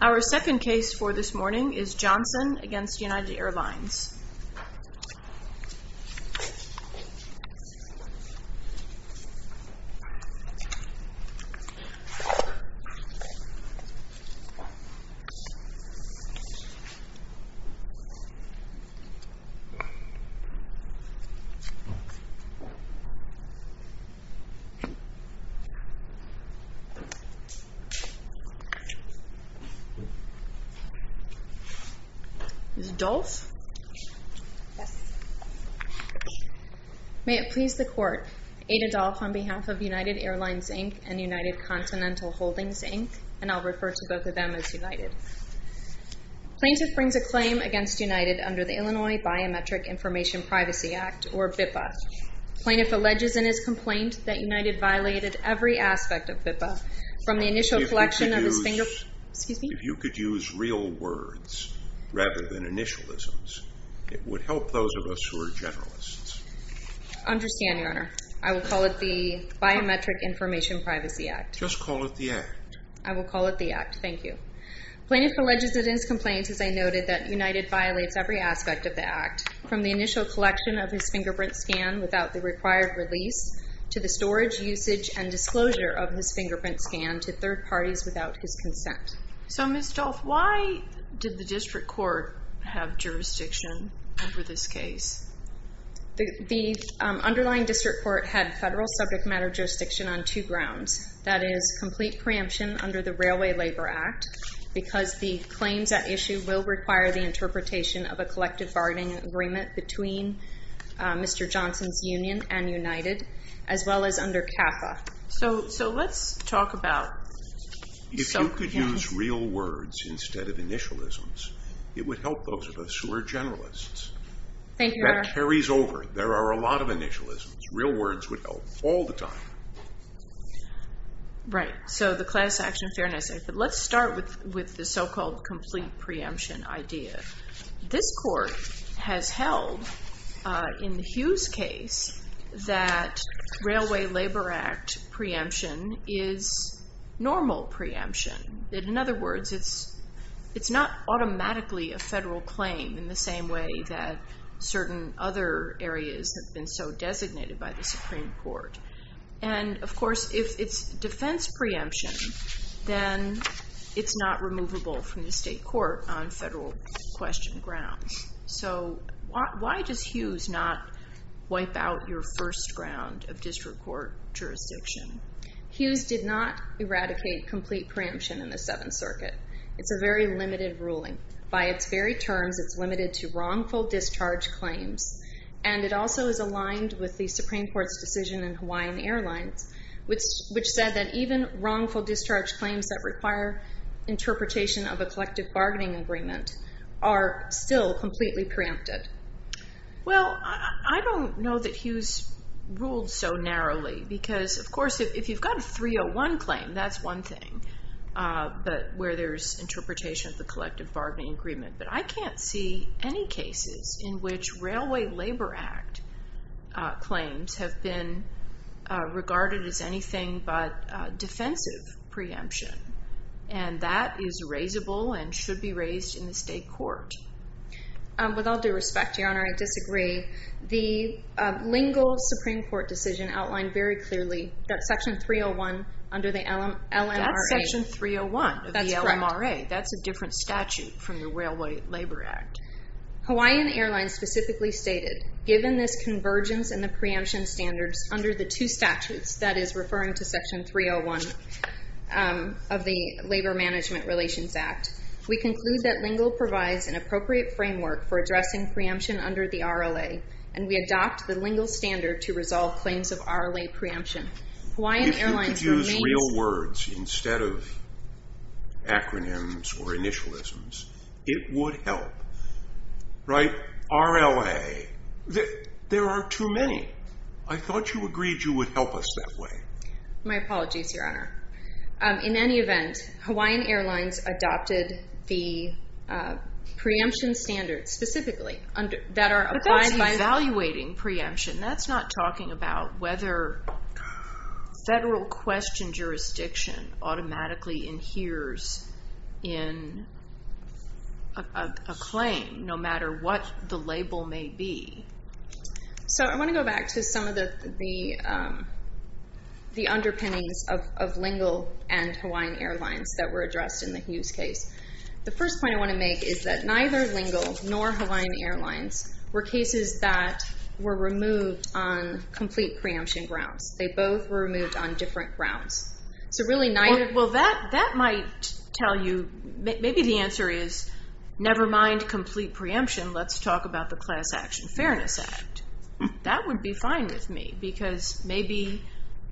Our second case for this morning is Johnson v. United Airlines May it please the Court, Ada Dolf on behalf of United Airlines, Inc. and United Continental Holdings, Inc., and I'll refer to both of them as United. Plaintiff brings a claim against United under the Illinois Biometric Information Privacy Act, or BIPA. Plaintiff alleges in his complaint that United violated every aspect of BIPA, from the initial collection of his fingerprint scan without the required release, to the storage, usage, his fingerprints. If you could use real words rather than initialisms, it would help those of us who are generalists. I understand, Your Honor. I will call it the Biometric Information Privacy Act. Just call it the Act. I will call it the Act. Thank you. Plaintiff alleges in his complaint, as I noted, that United violated every aspect of the Act, from the initial collection of his fingerprint scan without the required release, to the storage, usage, and disclosure of his fingerprint scan to third parties without his consent. So, Ms. Dolf, why did the district court have jurisdiction over this case? The underlying district court had federal subject matter jurisdiction on two grounds. That is, complete preemption under the Railway Labor Act, because the claims at issue will require the interpretation of a collective bargaining agreement between Mr. Johnson's union and United, as well as under CAFA. So, let's talk about… If you could use real words instead of initialisms, it would help those of us who are generalists. Thank you, Your Honor. That carries over. There are a lot of initialisms. Real words would help all the time. Right. So, the class action fairness. Let's start with the so-called complete preemption idea. This court has held, in the Hughes case, that Railway Labor Act preemption is normal preemption. In other words, it's not automatically a federal claim in the same way that certain other areas have been so designated by the Supreme Court. And, of course, if it's defense preemption, then it's not removable from the state court on federal question grounds. So, why does Hughes not wipe out your first ground of district court jurisdiction? Hughes did not eradicate complete preemption in the Seventh Circuit. It's a very limited ruling. By its very terms, it's limited to wrongful discharge claims, and it also is aligned with the Supreme Court's decision in Hawaiian Airlines, which said that even wrongful discharge claims that require interpretation of a collective bargaining agreement are still completely preempted. Well, I don't know that Hughes ruled so narrowly because, of course, if you've got a 301 claim, that's one thing where there's interpretation of the collective bargaining agreement. But I can't see any cases in which Railway Labor Act claims have been regarded as anything but defensive preemption, and that is raisable and should be raised in the state court. With all due respect, Your Honor, I disagree. The lingual Supreme Court decision outlined very clearly that Section 301 under the LMRA. That's Section 301 of the LMRA. That's correct. That's a different statute from the Railway Labor Act. Hawaiian Airlines specifically stated, given this convergence in the preemption standards under the two statutes, that is referring to Section 301 of the Labor Management Relations Act, we conclude that lingual provides an appropriate framework for addressing preemption under the RLA, and we adopt the lingual standard to resolve claims of RLA preemption. If you could use real words instead of acronyms or initialisms, it would help. Right? RLA. There are too many. I thought you agreed you would help us that way. My apologies, Your Honor. In any event, Hawaiian Airlines adopted the preemption standards specifically that are applied by... But that's evaluating preemption. That's not talking about whether federal question jurisdiction automatically adheres in a claim, no matter what the label may be. So I want to go back to some of the underpinnings of lingual and Hawaiian Airlines that were addressed in the Hughes case. The first point I want to make is that neither lingual nor Hawaiian Airlines were cases that were removed on complete preemption grounds. They both were removed on different grounds. So really neither... Well, that might tell you... Maybe the answer is, never mind complete preemption. Let's talk about the Class Action Fairness Act. That would be fine with me, because maybe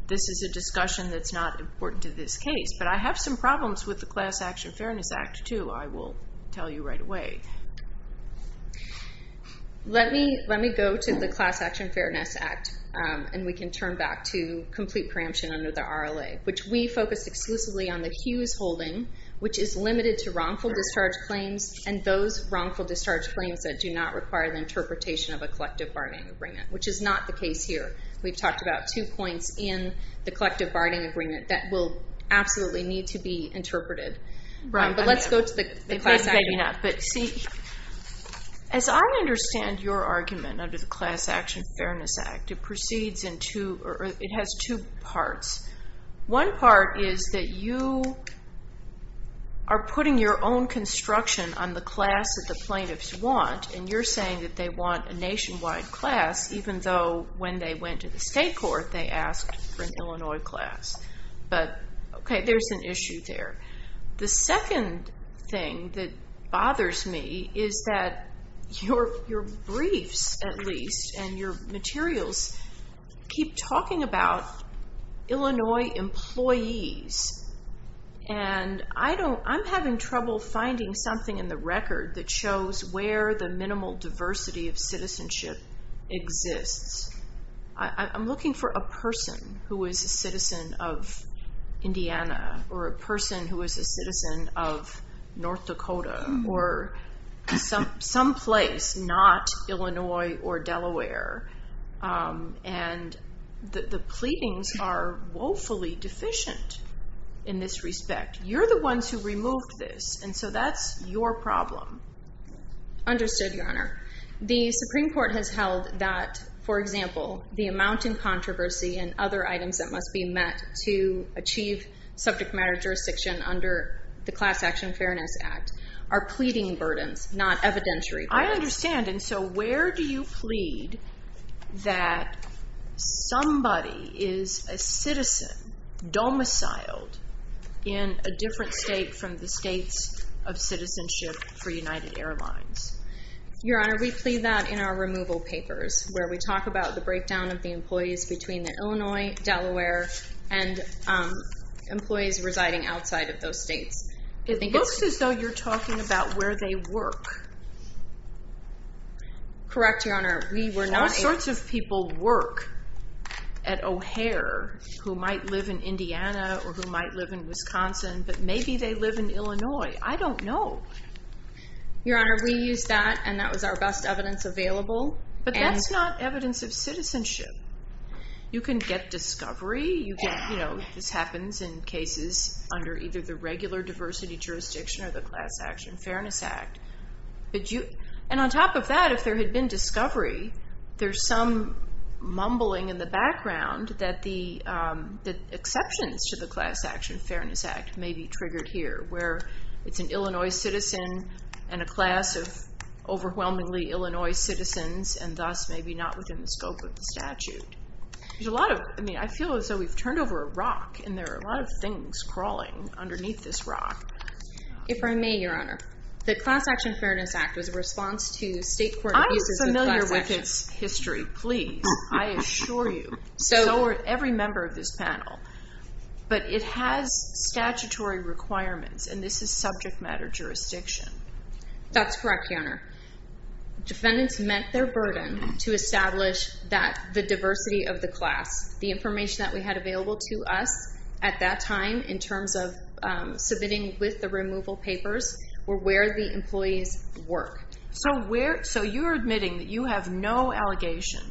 this is a discussion that's not important to this case. But I have some problems with the Class Action Fairness Act, too, I will tell you right away. Let me go to the Class Action Fairness Act, and we can turn back to complete preemption under the RLA, which we focused exclusively on the Hughes holding, which is limited to wrongful discharge claims and those wrongful discharge claims that do not require the interpretation of a collective bargaining agreement, which is not the case here. We've talked about two points in the collective bargaining agreement that will absolutely need to be interpreted. But let's go to the Class Action Fairness Act. But see, as I understand your argument under the Class Action Fairness Act, it has two parts. One part is that you are putting your own construction on the class that the plaintiffs want, and you're saying that they want a nationwide class, even though when they went to the state court, they asked for an Illinois class. But, okay, there's an issue there. The second thing that bothers me is that your briefs, at least, and your materials keep talking about Illinois employees. And I'm having trouble finding something in the record that shows where the minimal diversity of citizenship exists. I'm looking for a person who is a citizen of Indiana or a person who is a citizen of North Dakota or someplace not Illinois or Delaware. And the pleadings are woefully deficient in this respect. You're the ones who removed this, and so that's your problem. Understood, Your Honor. The Supreme Court has held that, for example, the amount in controversy and other items that must be met to achieve subject matter jurisdiction under the Class Action Fairness Act are pleading burdens, not evidentiary burdens. I understand. And so where do you plead that somebody is a citizen domiciled in a different state from the states of citizenship for United Airlines? Your Honor, we plead that in our removal papers, where we talk about the breakdown of the employees between the Illinois, Delaware, and employees residing outside of those states. It looks as though you're talking about where they work. Correct, Your Honor. Those sorts of people work at O'Hare who might live in Indiana or who might live in Wisconsin, but maybe they live in Illinois. I don't know. Your Honor, we use that, and that was our best evidence available. But that's not evidence of citizenship. You can get discovery. This happens in cases under either the regular diversity jurisdiction or the Class Action Fairness Act. And on top of that, if there had been discovery, there's some mumbling in the background that exceptions to the Class Action Fairness Act may be triggered here, where it's an Illinois citizen and a class of overwhelmingly Illinois citizens and thus maybe not within the scope of the statute. I feel as though we've turned over a rock, and there are a lot of things crawling underneath this rock. If I may, Your Honor, the Class Action Fairness Act was a response to state court abuses of class action. I'm familiar with its history, please. So are every member of this panel. But it has statutory requirements, and this is subject matter jurisdiction. That's correct, Your Honor. Defendants met their burden to establish the diversity of the class. The information that we had available to us at that time in terms of submitting with the removal papers were where the employees work. So you're admitting that you have no allegation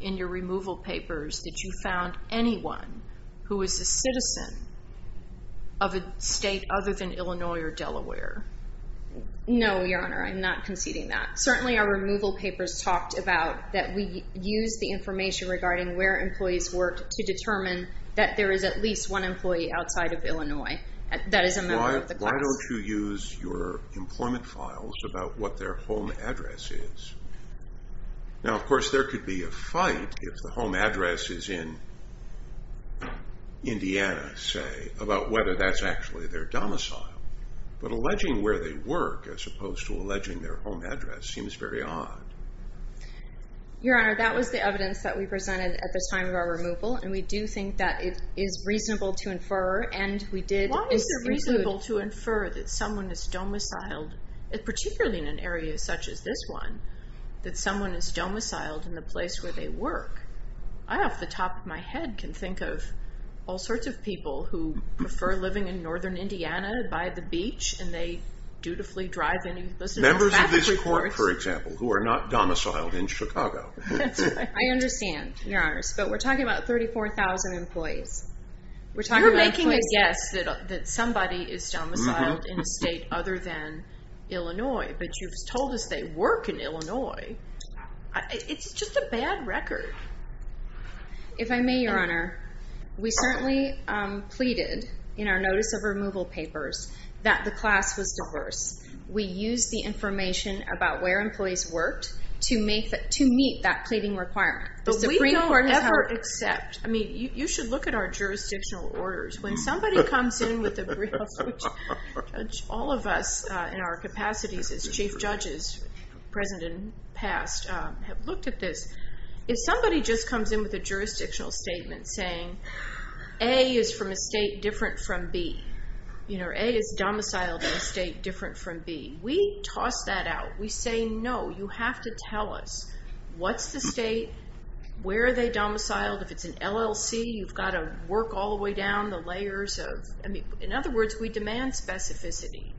in your removal papers that you found anyone who was a citizen of a state other than Illinois or Delaware? No, Your Honor, I'm not conceding that. Certainly our removal papers talked about that we used the information regarding where employees worked to determine that there is at least one employee outside of Illinois that is a member of the class. Why don't you use your employment files about what their home address is? Now, of course, there could be a fight if the home address is in Indiana, say, about whether that's actually their domicile. But alleging where they work as opposed to alleging their home address seems very odd. Your Honor, that was the evidence that we presented at the time of our removal, and we do think that it is reasonable to infer, and we did include... that someone is domiciled in the place where they work. I, off the top of my head, can think of all sorts of people who prefer living in northern Indiana by the beach and they dutifully drive in... Members of this court, for example, who are not domiciled in Chicago. I understand, Your Honor, but we're talking about 34,000 employees. You're making a guess that somebody is domiciled in a state other than Illinois, but you've told us they work in Illinois. It's just a bad record. If I may, Your Honor, we certainly pleaded in our notice of removal papers that the class was diverse. We used the information about where employees worked to meet that pleading requirement. But we don't ever accept... I mean, you should look at our jurisdictional orders. When somebody comes in with a brief... All of us in our capacities as chief judges, present and past, have looked at this. If somebody just comes in with a jurisdictional statement saying, A is from a state different from B, you know, A is domiciled in a state different from B, we toss that out. We say, no, you have to tell us what's the state, where are they domiciled. If it's an LLC, you've got to work all the way down the layers of... In other words, we demand specificity.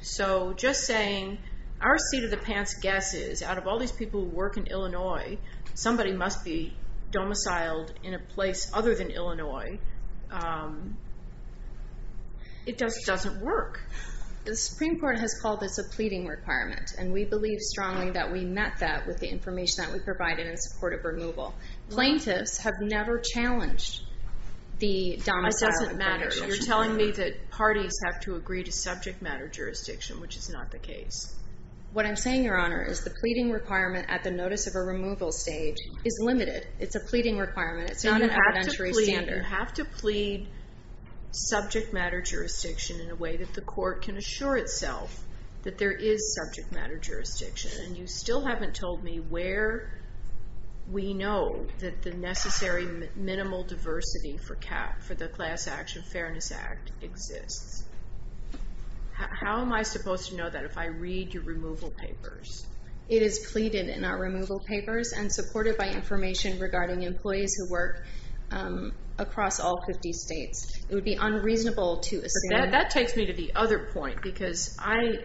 So just saying, our seat of the pants guess is, out of all these people who work in Illinois, somebody must be domiciled in a place other than Illinois. It just doesn't work. The Supreme Court has called this a pleading requirement, and we believe strongly that we met that with the information that we provided in support of removal. Plaintiffs have never challenged the domicile... It doesn't matter. You're telling me that parties have to agree to subject matter jurisdiction, which is not the case. What I'm saying, Your Honor, is the pleading requirement at the notice of a removal stage is limited. It's a pleading requirement. It's not an evidentiary standard. You have to plead subject matter jurisdiction in a way that the court can assure itself that there is subject matter jurisdiction. And you still haven't told me where we know that the necessary minimal diversity for CAP, for the Class Action Fairness Act, exists. How am I supposed to know that if I read your removal papers? It is pleaded in our removal papers and supported by information regarding employees who work across all 50 states. It would be unreasonable to assume... That takes me to the other point because I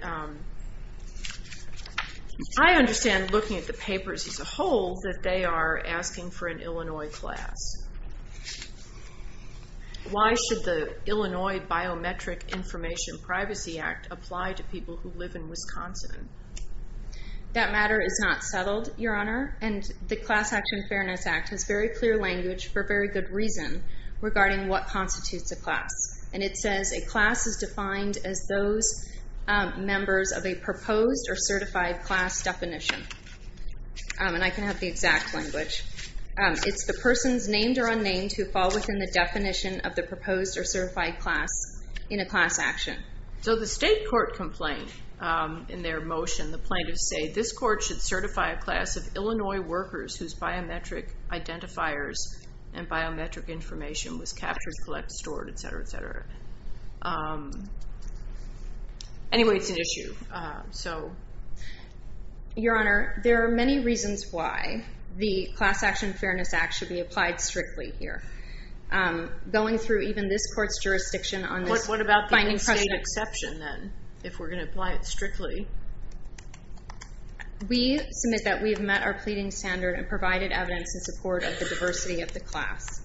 understand, looking at the papers as a whole, that they are asking for an Illinois class. Why should the Illinois Biometric Information Privacy Act apply to people who live in Wisconsin? That matter is not settled, Your Honor, and the Class Action Fairness Act has very clear language for very good reason regarding what constitutes a class. And it says a class is defined as those members of a proposed or certified class definition. And I can have the exact language. It's the persons, named or unnamed, who fall within the definition of the proposed or certified class in a class action. So the state court complained in their motion. The plaintiffs say this court should certify a class of Illinois workers whose biometric identifiers and biometric information was captured, collected, stored, etc., etc. Anyway, it's an issue, so... Your Honor, there are many reasons why the Class Action Fairness Act should be applied strictly here. Going through even this court's jurisdiction on this... What about the unsaid exception, then, if we're going to apply it strictly? We submit that we have met our pleading standard and provided evidence in support of the diversity of the class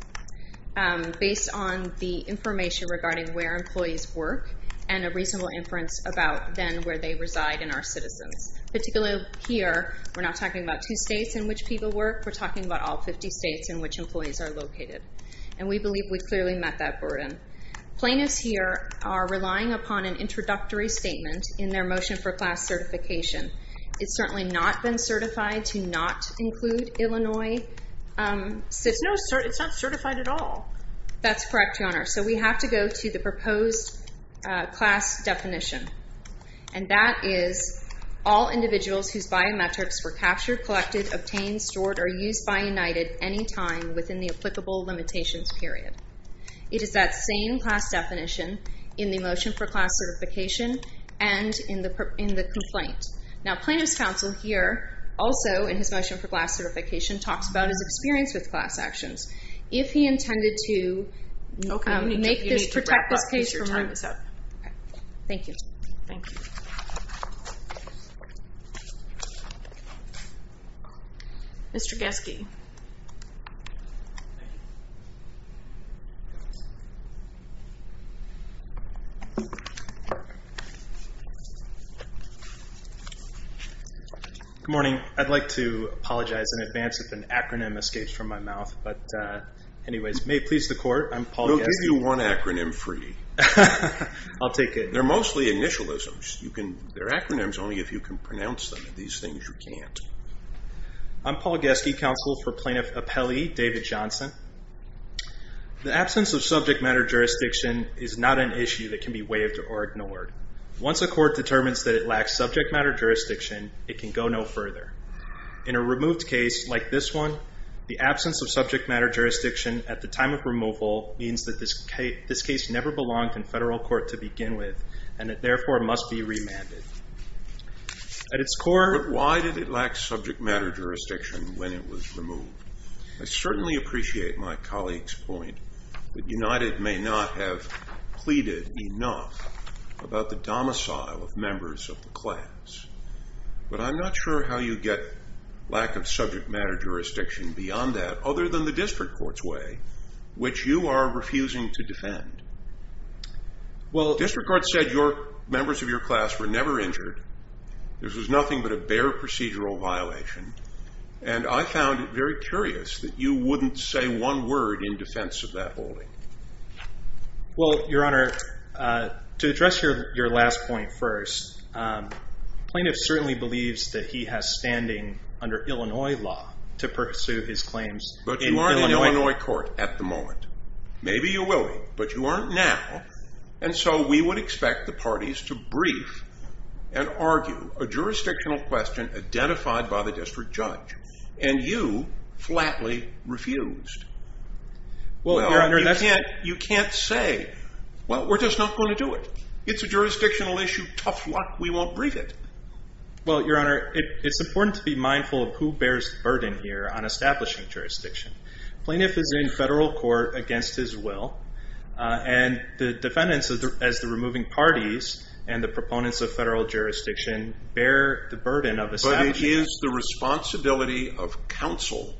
based on the information regarding where employees work and a reasonable inference about, then, where they reside in our citizens. Particularly here, we're not talking about two states in which people work. We're talking about all 50 states in which employees are located. And we believe we clearly met that burden. Plaintiffs here are relying upon an introductory statement in their motion for class certification. It's certainly not been certified to not include Illinois citizens. No, it's not certified at all. That's correct, Your Honor. So we have to go to the proposed class definition. And that is all individuals whose biometrics were captured, collected, obtained, stored, or used by United any time within the applicable limitations period. It is that same class definition in the motion for class certification and in the complaint. Now, plaintiff's counsel here, also in his motion for class certification, talks about his experience with class actions. If he intended to make this... Okay, you need to wrap up because your time is up. Thank you. Thank you. Mr. Geske. Good morning. I'd like to apologize in advance if an acronym escapes from my mouth. But anyways, may it please the Court, I'm Paul Geske. We'll give you one acronym free. I'll take it. They're mostly initialisms. They're acronyms only if you can pronounce them. These things you can't. I'm Paul Geske, counsel for Plaintiff Appellee David Johnson. The absence of subject matter jurisdiction is not an issue that can be waived or ignored. Once a court determines that it lacks subject matter jurisdiction, it can go no further. In a removed case like this one, the absence of subject matter jurisdiction at the time of removal means that this case never belonged in federal court to begin with, and it therefore must be remanded. At its core... But why did it lack subject matter jurisdiction when it was removed? I certainly appreciate my colleague's point that United may not have pleaded enough about the domicile of members of the class. But I'm not sure how you get lack of subject matter jurisdiction beyond that other than the district court's way, which you are refusing to defend. Well, district court said members of your class were never injured. This was nothing but a bare procedural violation. And I found it very curious that you wouldn't say one word in defense of that holding. Well, Your Honor, to address your last point first, plaintiff certainly believes that he has standing under Illinois law to pursue his claims. But you aren't in Illinois court at the moment. Maybe you will be, but you aren't now. And so we would expect the parties to brief and argue a jurisdictional question identified by the district judge. And you flatly refused. Well, Your Honor, that's... You can't say, well, we're just not going to do it. It's a jurisdictional issue. Tough luck. We won't brief it. Well, Your Honor, it's important to be mindful of who bears the burden here on establishing jurisdiction. Plaintiff is in federal court against his will. And the defendants, as the removing parties and the proponents of federal jurisdiction, bear the burden of establishing... But it is the responsibility of counsel,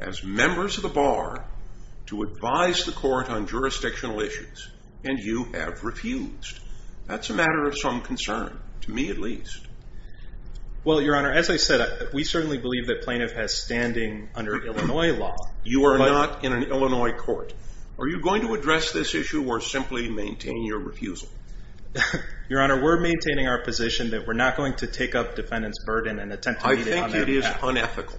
as members of the bar, to advise the court on jurisdictional issues. And you have refused. That's a matter of some concern, to me at least. Well, Your Honor, as I said, we certainly believe that plaintiff has standing under Illinois law. You are not in an Illinois court. Are you going to address this issue or simply maintain your refusal? Your Honor, we're maintaining our position that we're not going to take up defendant's burden and attempt to meet it on their behalf. I think it is unethical.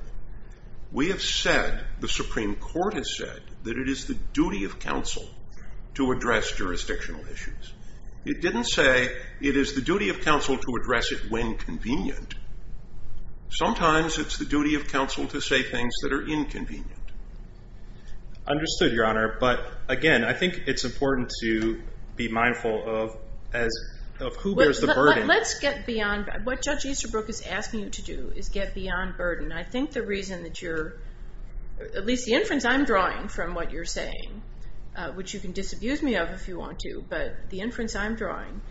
We have said, the Supreme Court has said, that it is the duty of counsel to address jurisdictional issues. It didn't say it is the duty of counsel to address it when convenient. Sometimes it's the duty of counsel to say things that are inconvenient. Understood, Your Honor. But, again, I think it's important to be mindful of who bears the burden. Let's get beyond what Judge Easterbrook is asking you to do, is get beyond burden. I think the reason that you're, at least the inference I'm drawing from what you're saying, which you can disabuse me of if you want to, but the inference I'm drawing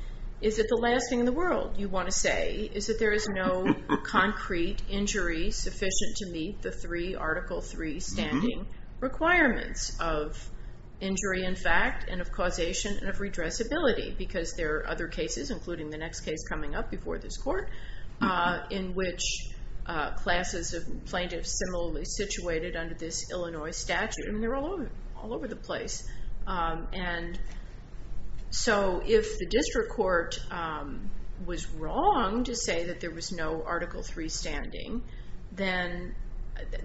is that the last thing in the world you want to say is that there is no concrete injury sufficient to meet the three, Article III standing requirements of injury in fact and of causation and of redressability. Because there are other cases, including the next case coming up before this court, in which classes of plaintiffs similarly situated under this Illinois statute, and they're all over the place. And so if the district court was wrong to say that there was no Article III standing, then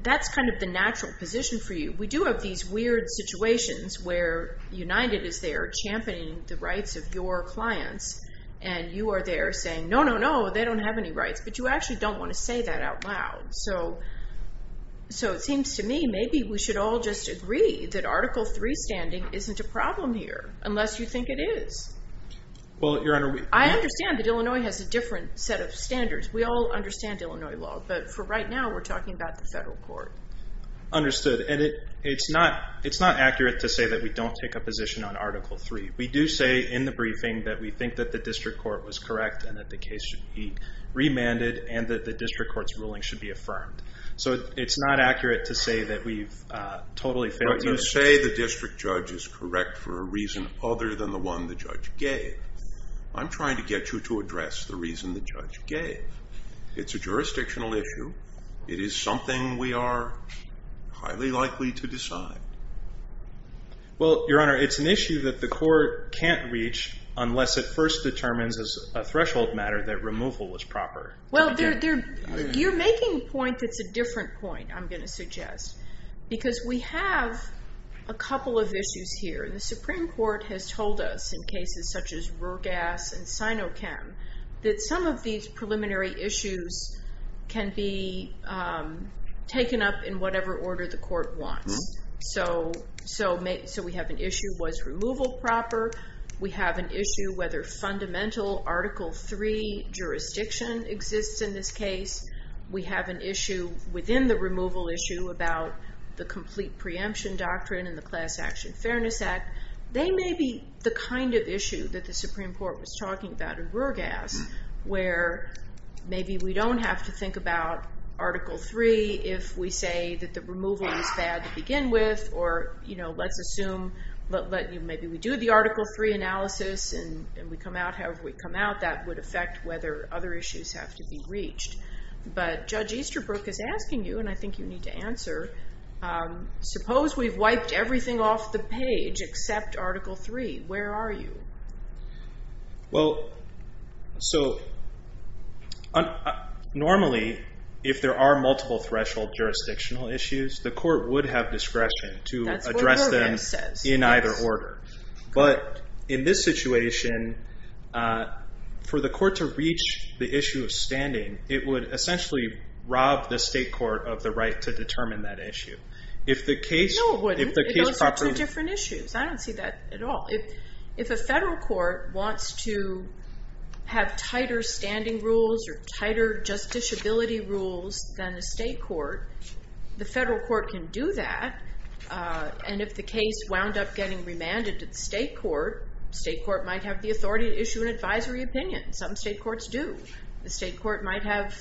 that's kind of the natural position for you. We do have these weird situations where United is there championing the rights of your clients, and you are there saying, no, no, no, they don't have any rights. But you actually don't want to say that out loud. So it seems to me maybe we should all just agree that Article III standing isn't a problem here, unless you think it is. I understand that Illinois has a different set of standards. We all understand Illinois law. But for right now, we're talking about the federal court. Understood. And it's not accurate to say that we don't take a position on Article III. We do say in the briefing that we think that the district court was correct and that the case should be remanded and that the district court's ruling should be affirmed. So it's not accurate to say that we've totally failed you. You say the district judge is correct for a reason other than the one the judge gave. I'm trying to get you to address the reason the judge gave. It's a jurisdictional issue. It is something we are highly likely to decide. Well, Your Honor, it's an issue that the court can't reach unless it first determines as a threshold matter that removal was proper. Well, you're making a point that's a different point, I'm going to suggest, because we have a couple of issues here. The Supreme Court has told us in cases such as Rurgas and Sinochem that some of these preliminary issues can be taken up in whatever order the court wants. So we have an issue, was removal proper? We have an issue whether fundamental Article III jurisdiction exists in this case. We have an issue within the removal issue about the complete preemption doctrine and the Class Action Fairness Act. They may be the kind of issue that the Supreme Court was talking about in Rurgas where maybe we don't have to think about Article III if we say that the removal is bad to begin with or let's assume maybe we do the Article III analysis and we come out however we come out, that would affect whether other issues have to be reached. But Judge Easterbrook is asking you, and I think you need to answer, suppose we've wiped everything off the page except Article III, where are you? Well, so normally if there are multiple threshold jurisdictional issues, the court would have discretion to address them in either order. But in this situation, for the court to reach the issue of standing, it would essentially rob the state court of the right to determine that issue. No, it wouldn't. Those are two different issues. I don't see that at all. If a federal court wants to have tighter standing rules or tighter justiciability rules than a state court, the federal court can do that, and if the case wound up getting remanded to the state court, the state court might have the authority to issue an advisory opinion. Some state courts do. The state court might have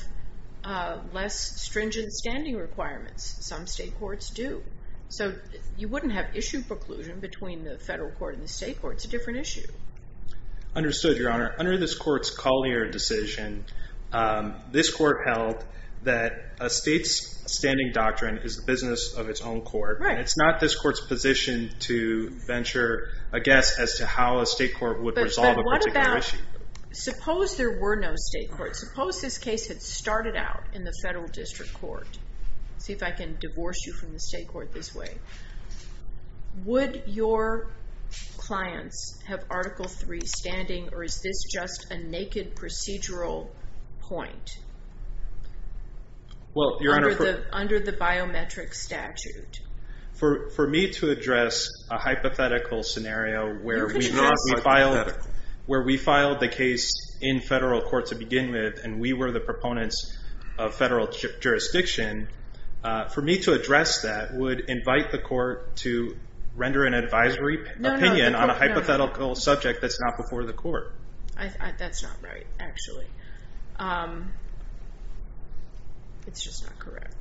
less stringent standing requirements. Some state courts do. So you wouldn't have issue preclusion between the federal court and the state court. It's a different issue. Understood, Your Honor. Under this court's Collier decision, this court held that a state's standing doctrine is the business of its own court. Right. And it's not this court's position to venture a guess as to how a state court would resolve a particular issue. But what about, suppose there were no state courts. Suppose this case had started out in the federal district court. See if I can divorce you from the state court this way. Would your clients have Article III standing, or is this just a naked procedural point under the biometric statute? For me to address a hypothetical scenario where we filed the case in federal court to begin with, and we were the proponents of federal jurisdiction, for me to address that would invite the court to render an advisory opinion on a hypothetical subject that's not before the court. That's not right, actually. It's just not correct.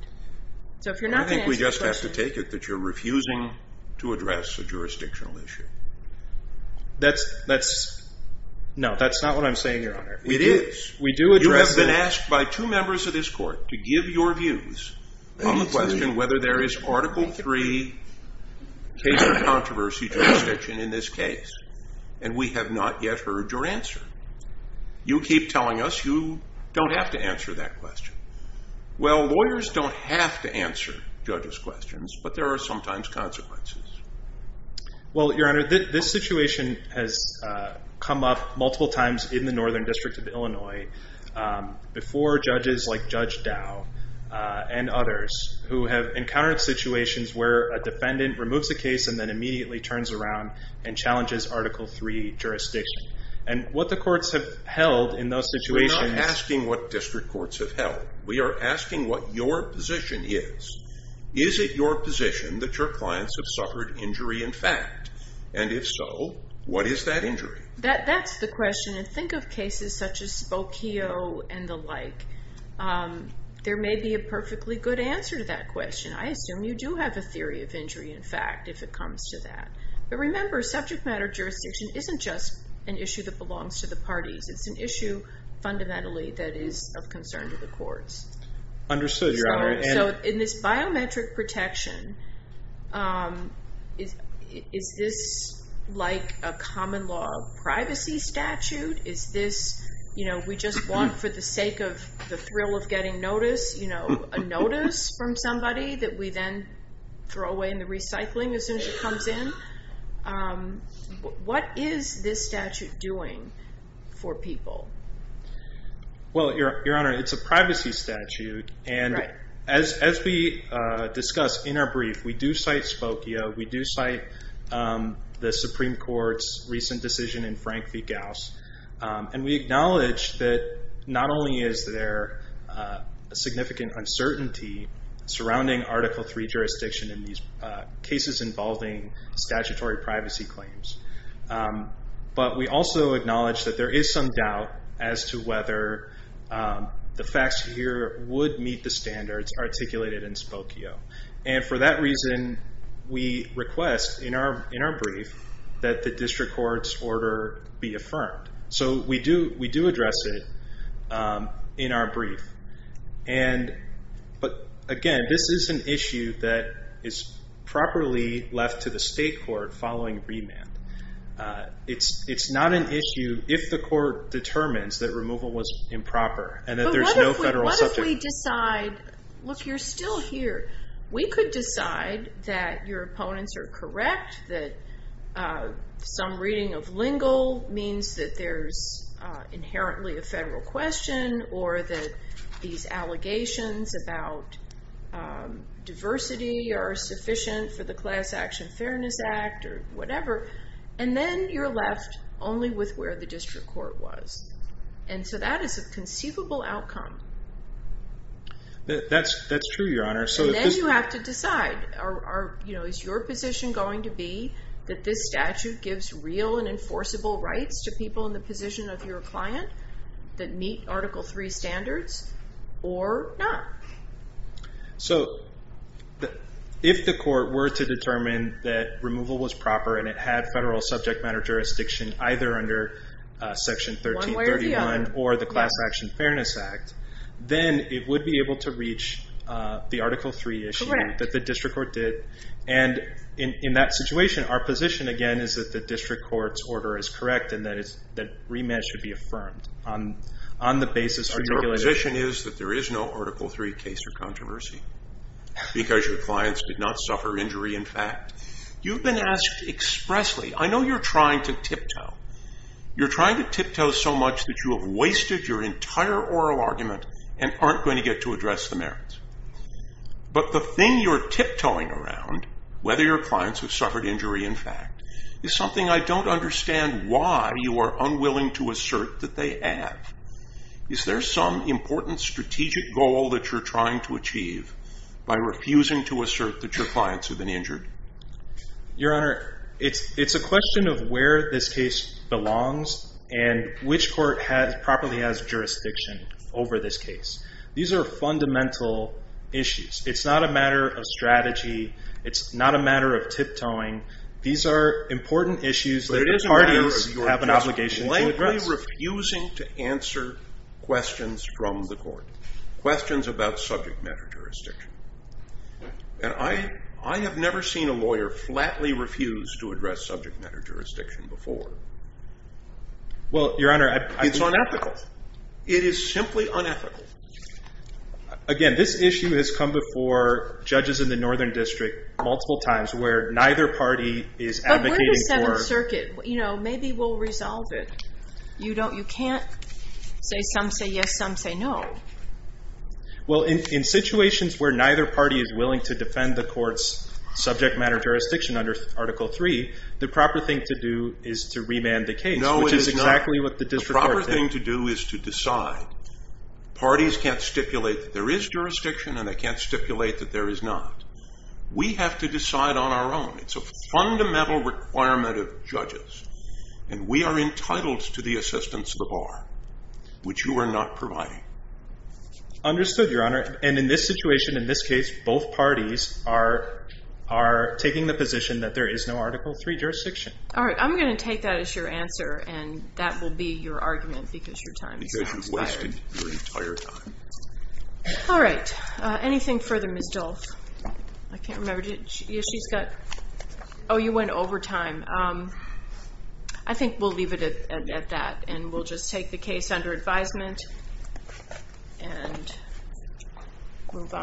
I think we just have to take it that you're refusing to address a jurisdictional issue. No, that's not what I'm saying, Your Honor. It is. We do address it. You have been asked by two members of this court to give your views on the question whether there is Article III case for controversy jurisdiction in this case. And we have not yet heard your answer. You keep telling us you don't have to answer that question. Well, lawyers don't have to answer judges' questions, but there are sometimes consequences. Well, Your Honor, this situation has come up multiple times in the Northern District of Illinois before judges like Judge Dow and others, who have encountered situations where a defendant removes a case and then immediately turns around and challenges Article III jurisdiction. And what the courts have held in those situations – We're not asking what district courts have held. We are asking what your position is. Is it your position that your clients have suffered injury in fact? And if so, what is that injury? That's the question. And think of cases such as Spokio and the like. There may be a perfectly good answer to that question. I assume you do have a theory of injury in fact if it comes to that. But remember, subject matter jurisdiction isn't just an issue that belongs to the parties. It's an issue fundamentally that is of concern to the courts. Understood, Your Honor. So in this biometric protection, is this like a common law privacy statute? Is this, you know, we just want for the sake of the thrill of getting notice, you know, a notice from somebody that we then throw away in the recycling as soon as it comes in? What is this statute doing for people? Well, Your Honor, it's a privacy statute. And as we discuss in our brief, we do cite Spokio. We do cite the Supreme Court's recent decision in Frank v. Gauss. And we acknowledge that not only is there significant uncertainty surrounding Article III jurisdiction in these cases involving statutory privacy claims, but we also acknowledge that there is some doubt as to whether the facts here would meet the standards articulated in Spokio. And for that reason, we request in our brief that the district court's order be affirmed. So we do address it in our brief. But again, this is an issue that is properly left to the state court following remand. It's not an issue if the court determines that removal was improper and that there's no federal subject. But what if we decide, look, you're still here. We could decide that your opponents are correct, that some reading of lingo means that there's inherently a federal question, or that these allegations about diversity are sufficient for the Class Action Fairness Act or whatever. And then you're left only with where the district court was. And so that is a conceivable outcome. That's true, Your Honor. And then you have to decide. Is your position going to be that this statute gives real and enforceable rights to people in the position of your client that meet Article III standards or not? So if the court were to determine that removal was proper and it had federal subject matter jurisdiction either under Section 1331 or the Class Action Fairness Act, then it would be able to reach the Article III issue that the district court did. And in that situation, our position, again, is that the district court's order is correct and that remand should be affirmed on the basis of articulation. So your position is that there is no Article III case or controversy because your clients did not suffer injury in fact. You've been asked expressly. I know you're trying to tiptoe. You're trying to tiptoe so much that you have wasted your entire oral argument and aren't going to get to address the merits. But the thing you're tiptoeing around, whether your clients have suffered injury in fact, is something I don't understand why you are unwilling to assert that they have. Is there some important strategic goal that you're trying to achieve by refusing to assert that your clients have been injured? Your Honor, it's a question of where this case belongs and which court properly has jurisdiction over this case. These are fundamental issues. It's not a matter of strategy. It's not a matter of tiptoeing. These are important issues that parties have an obligation to address. But it is a matter of your plainly refusing to answer questions from the court, questions about subject matter jurisdiction. And I have never seen a lawyer flatly refuse to address subject matter jurisdiction before. Well, Your Honor, I... It's unethical. It is simply unethical. Again, this issue has come before judges in the Northern District multiple times where neither party is advocating for... But we're the Seventh Circuit. Maybe we'll resolve it. You can't say some say yes, some say no. Well, in situations where neither party is willing to defend the court's subject matter jurisdiction under Article 3, the proper thing to do is to remand the case. No, it is not. Which is exactly what the district court did. The proper thing to do is to decide. Parties can't stipulate that there is jurisdiction and they can't stipulate that there is not. We have to decide on our own. It's a fundamental requirement of judges. And we are entitled to the assistance of the bar, which you are not providing. Understood, Your Honor. And in this situation, in this case, both parties are taking the position that there is no Article 3 jurisdiction. All right. I'm going to take that as your answer and that will be your argument because your time is expired. Because you've wasted your entire time. All right. Anything further, Ms. Dolph? I can't remember. She's got... Oh, you went over time. I think we'll leave it at that and we'll just take the case under advisement and move on.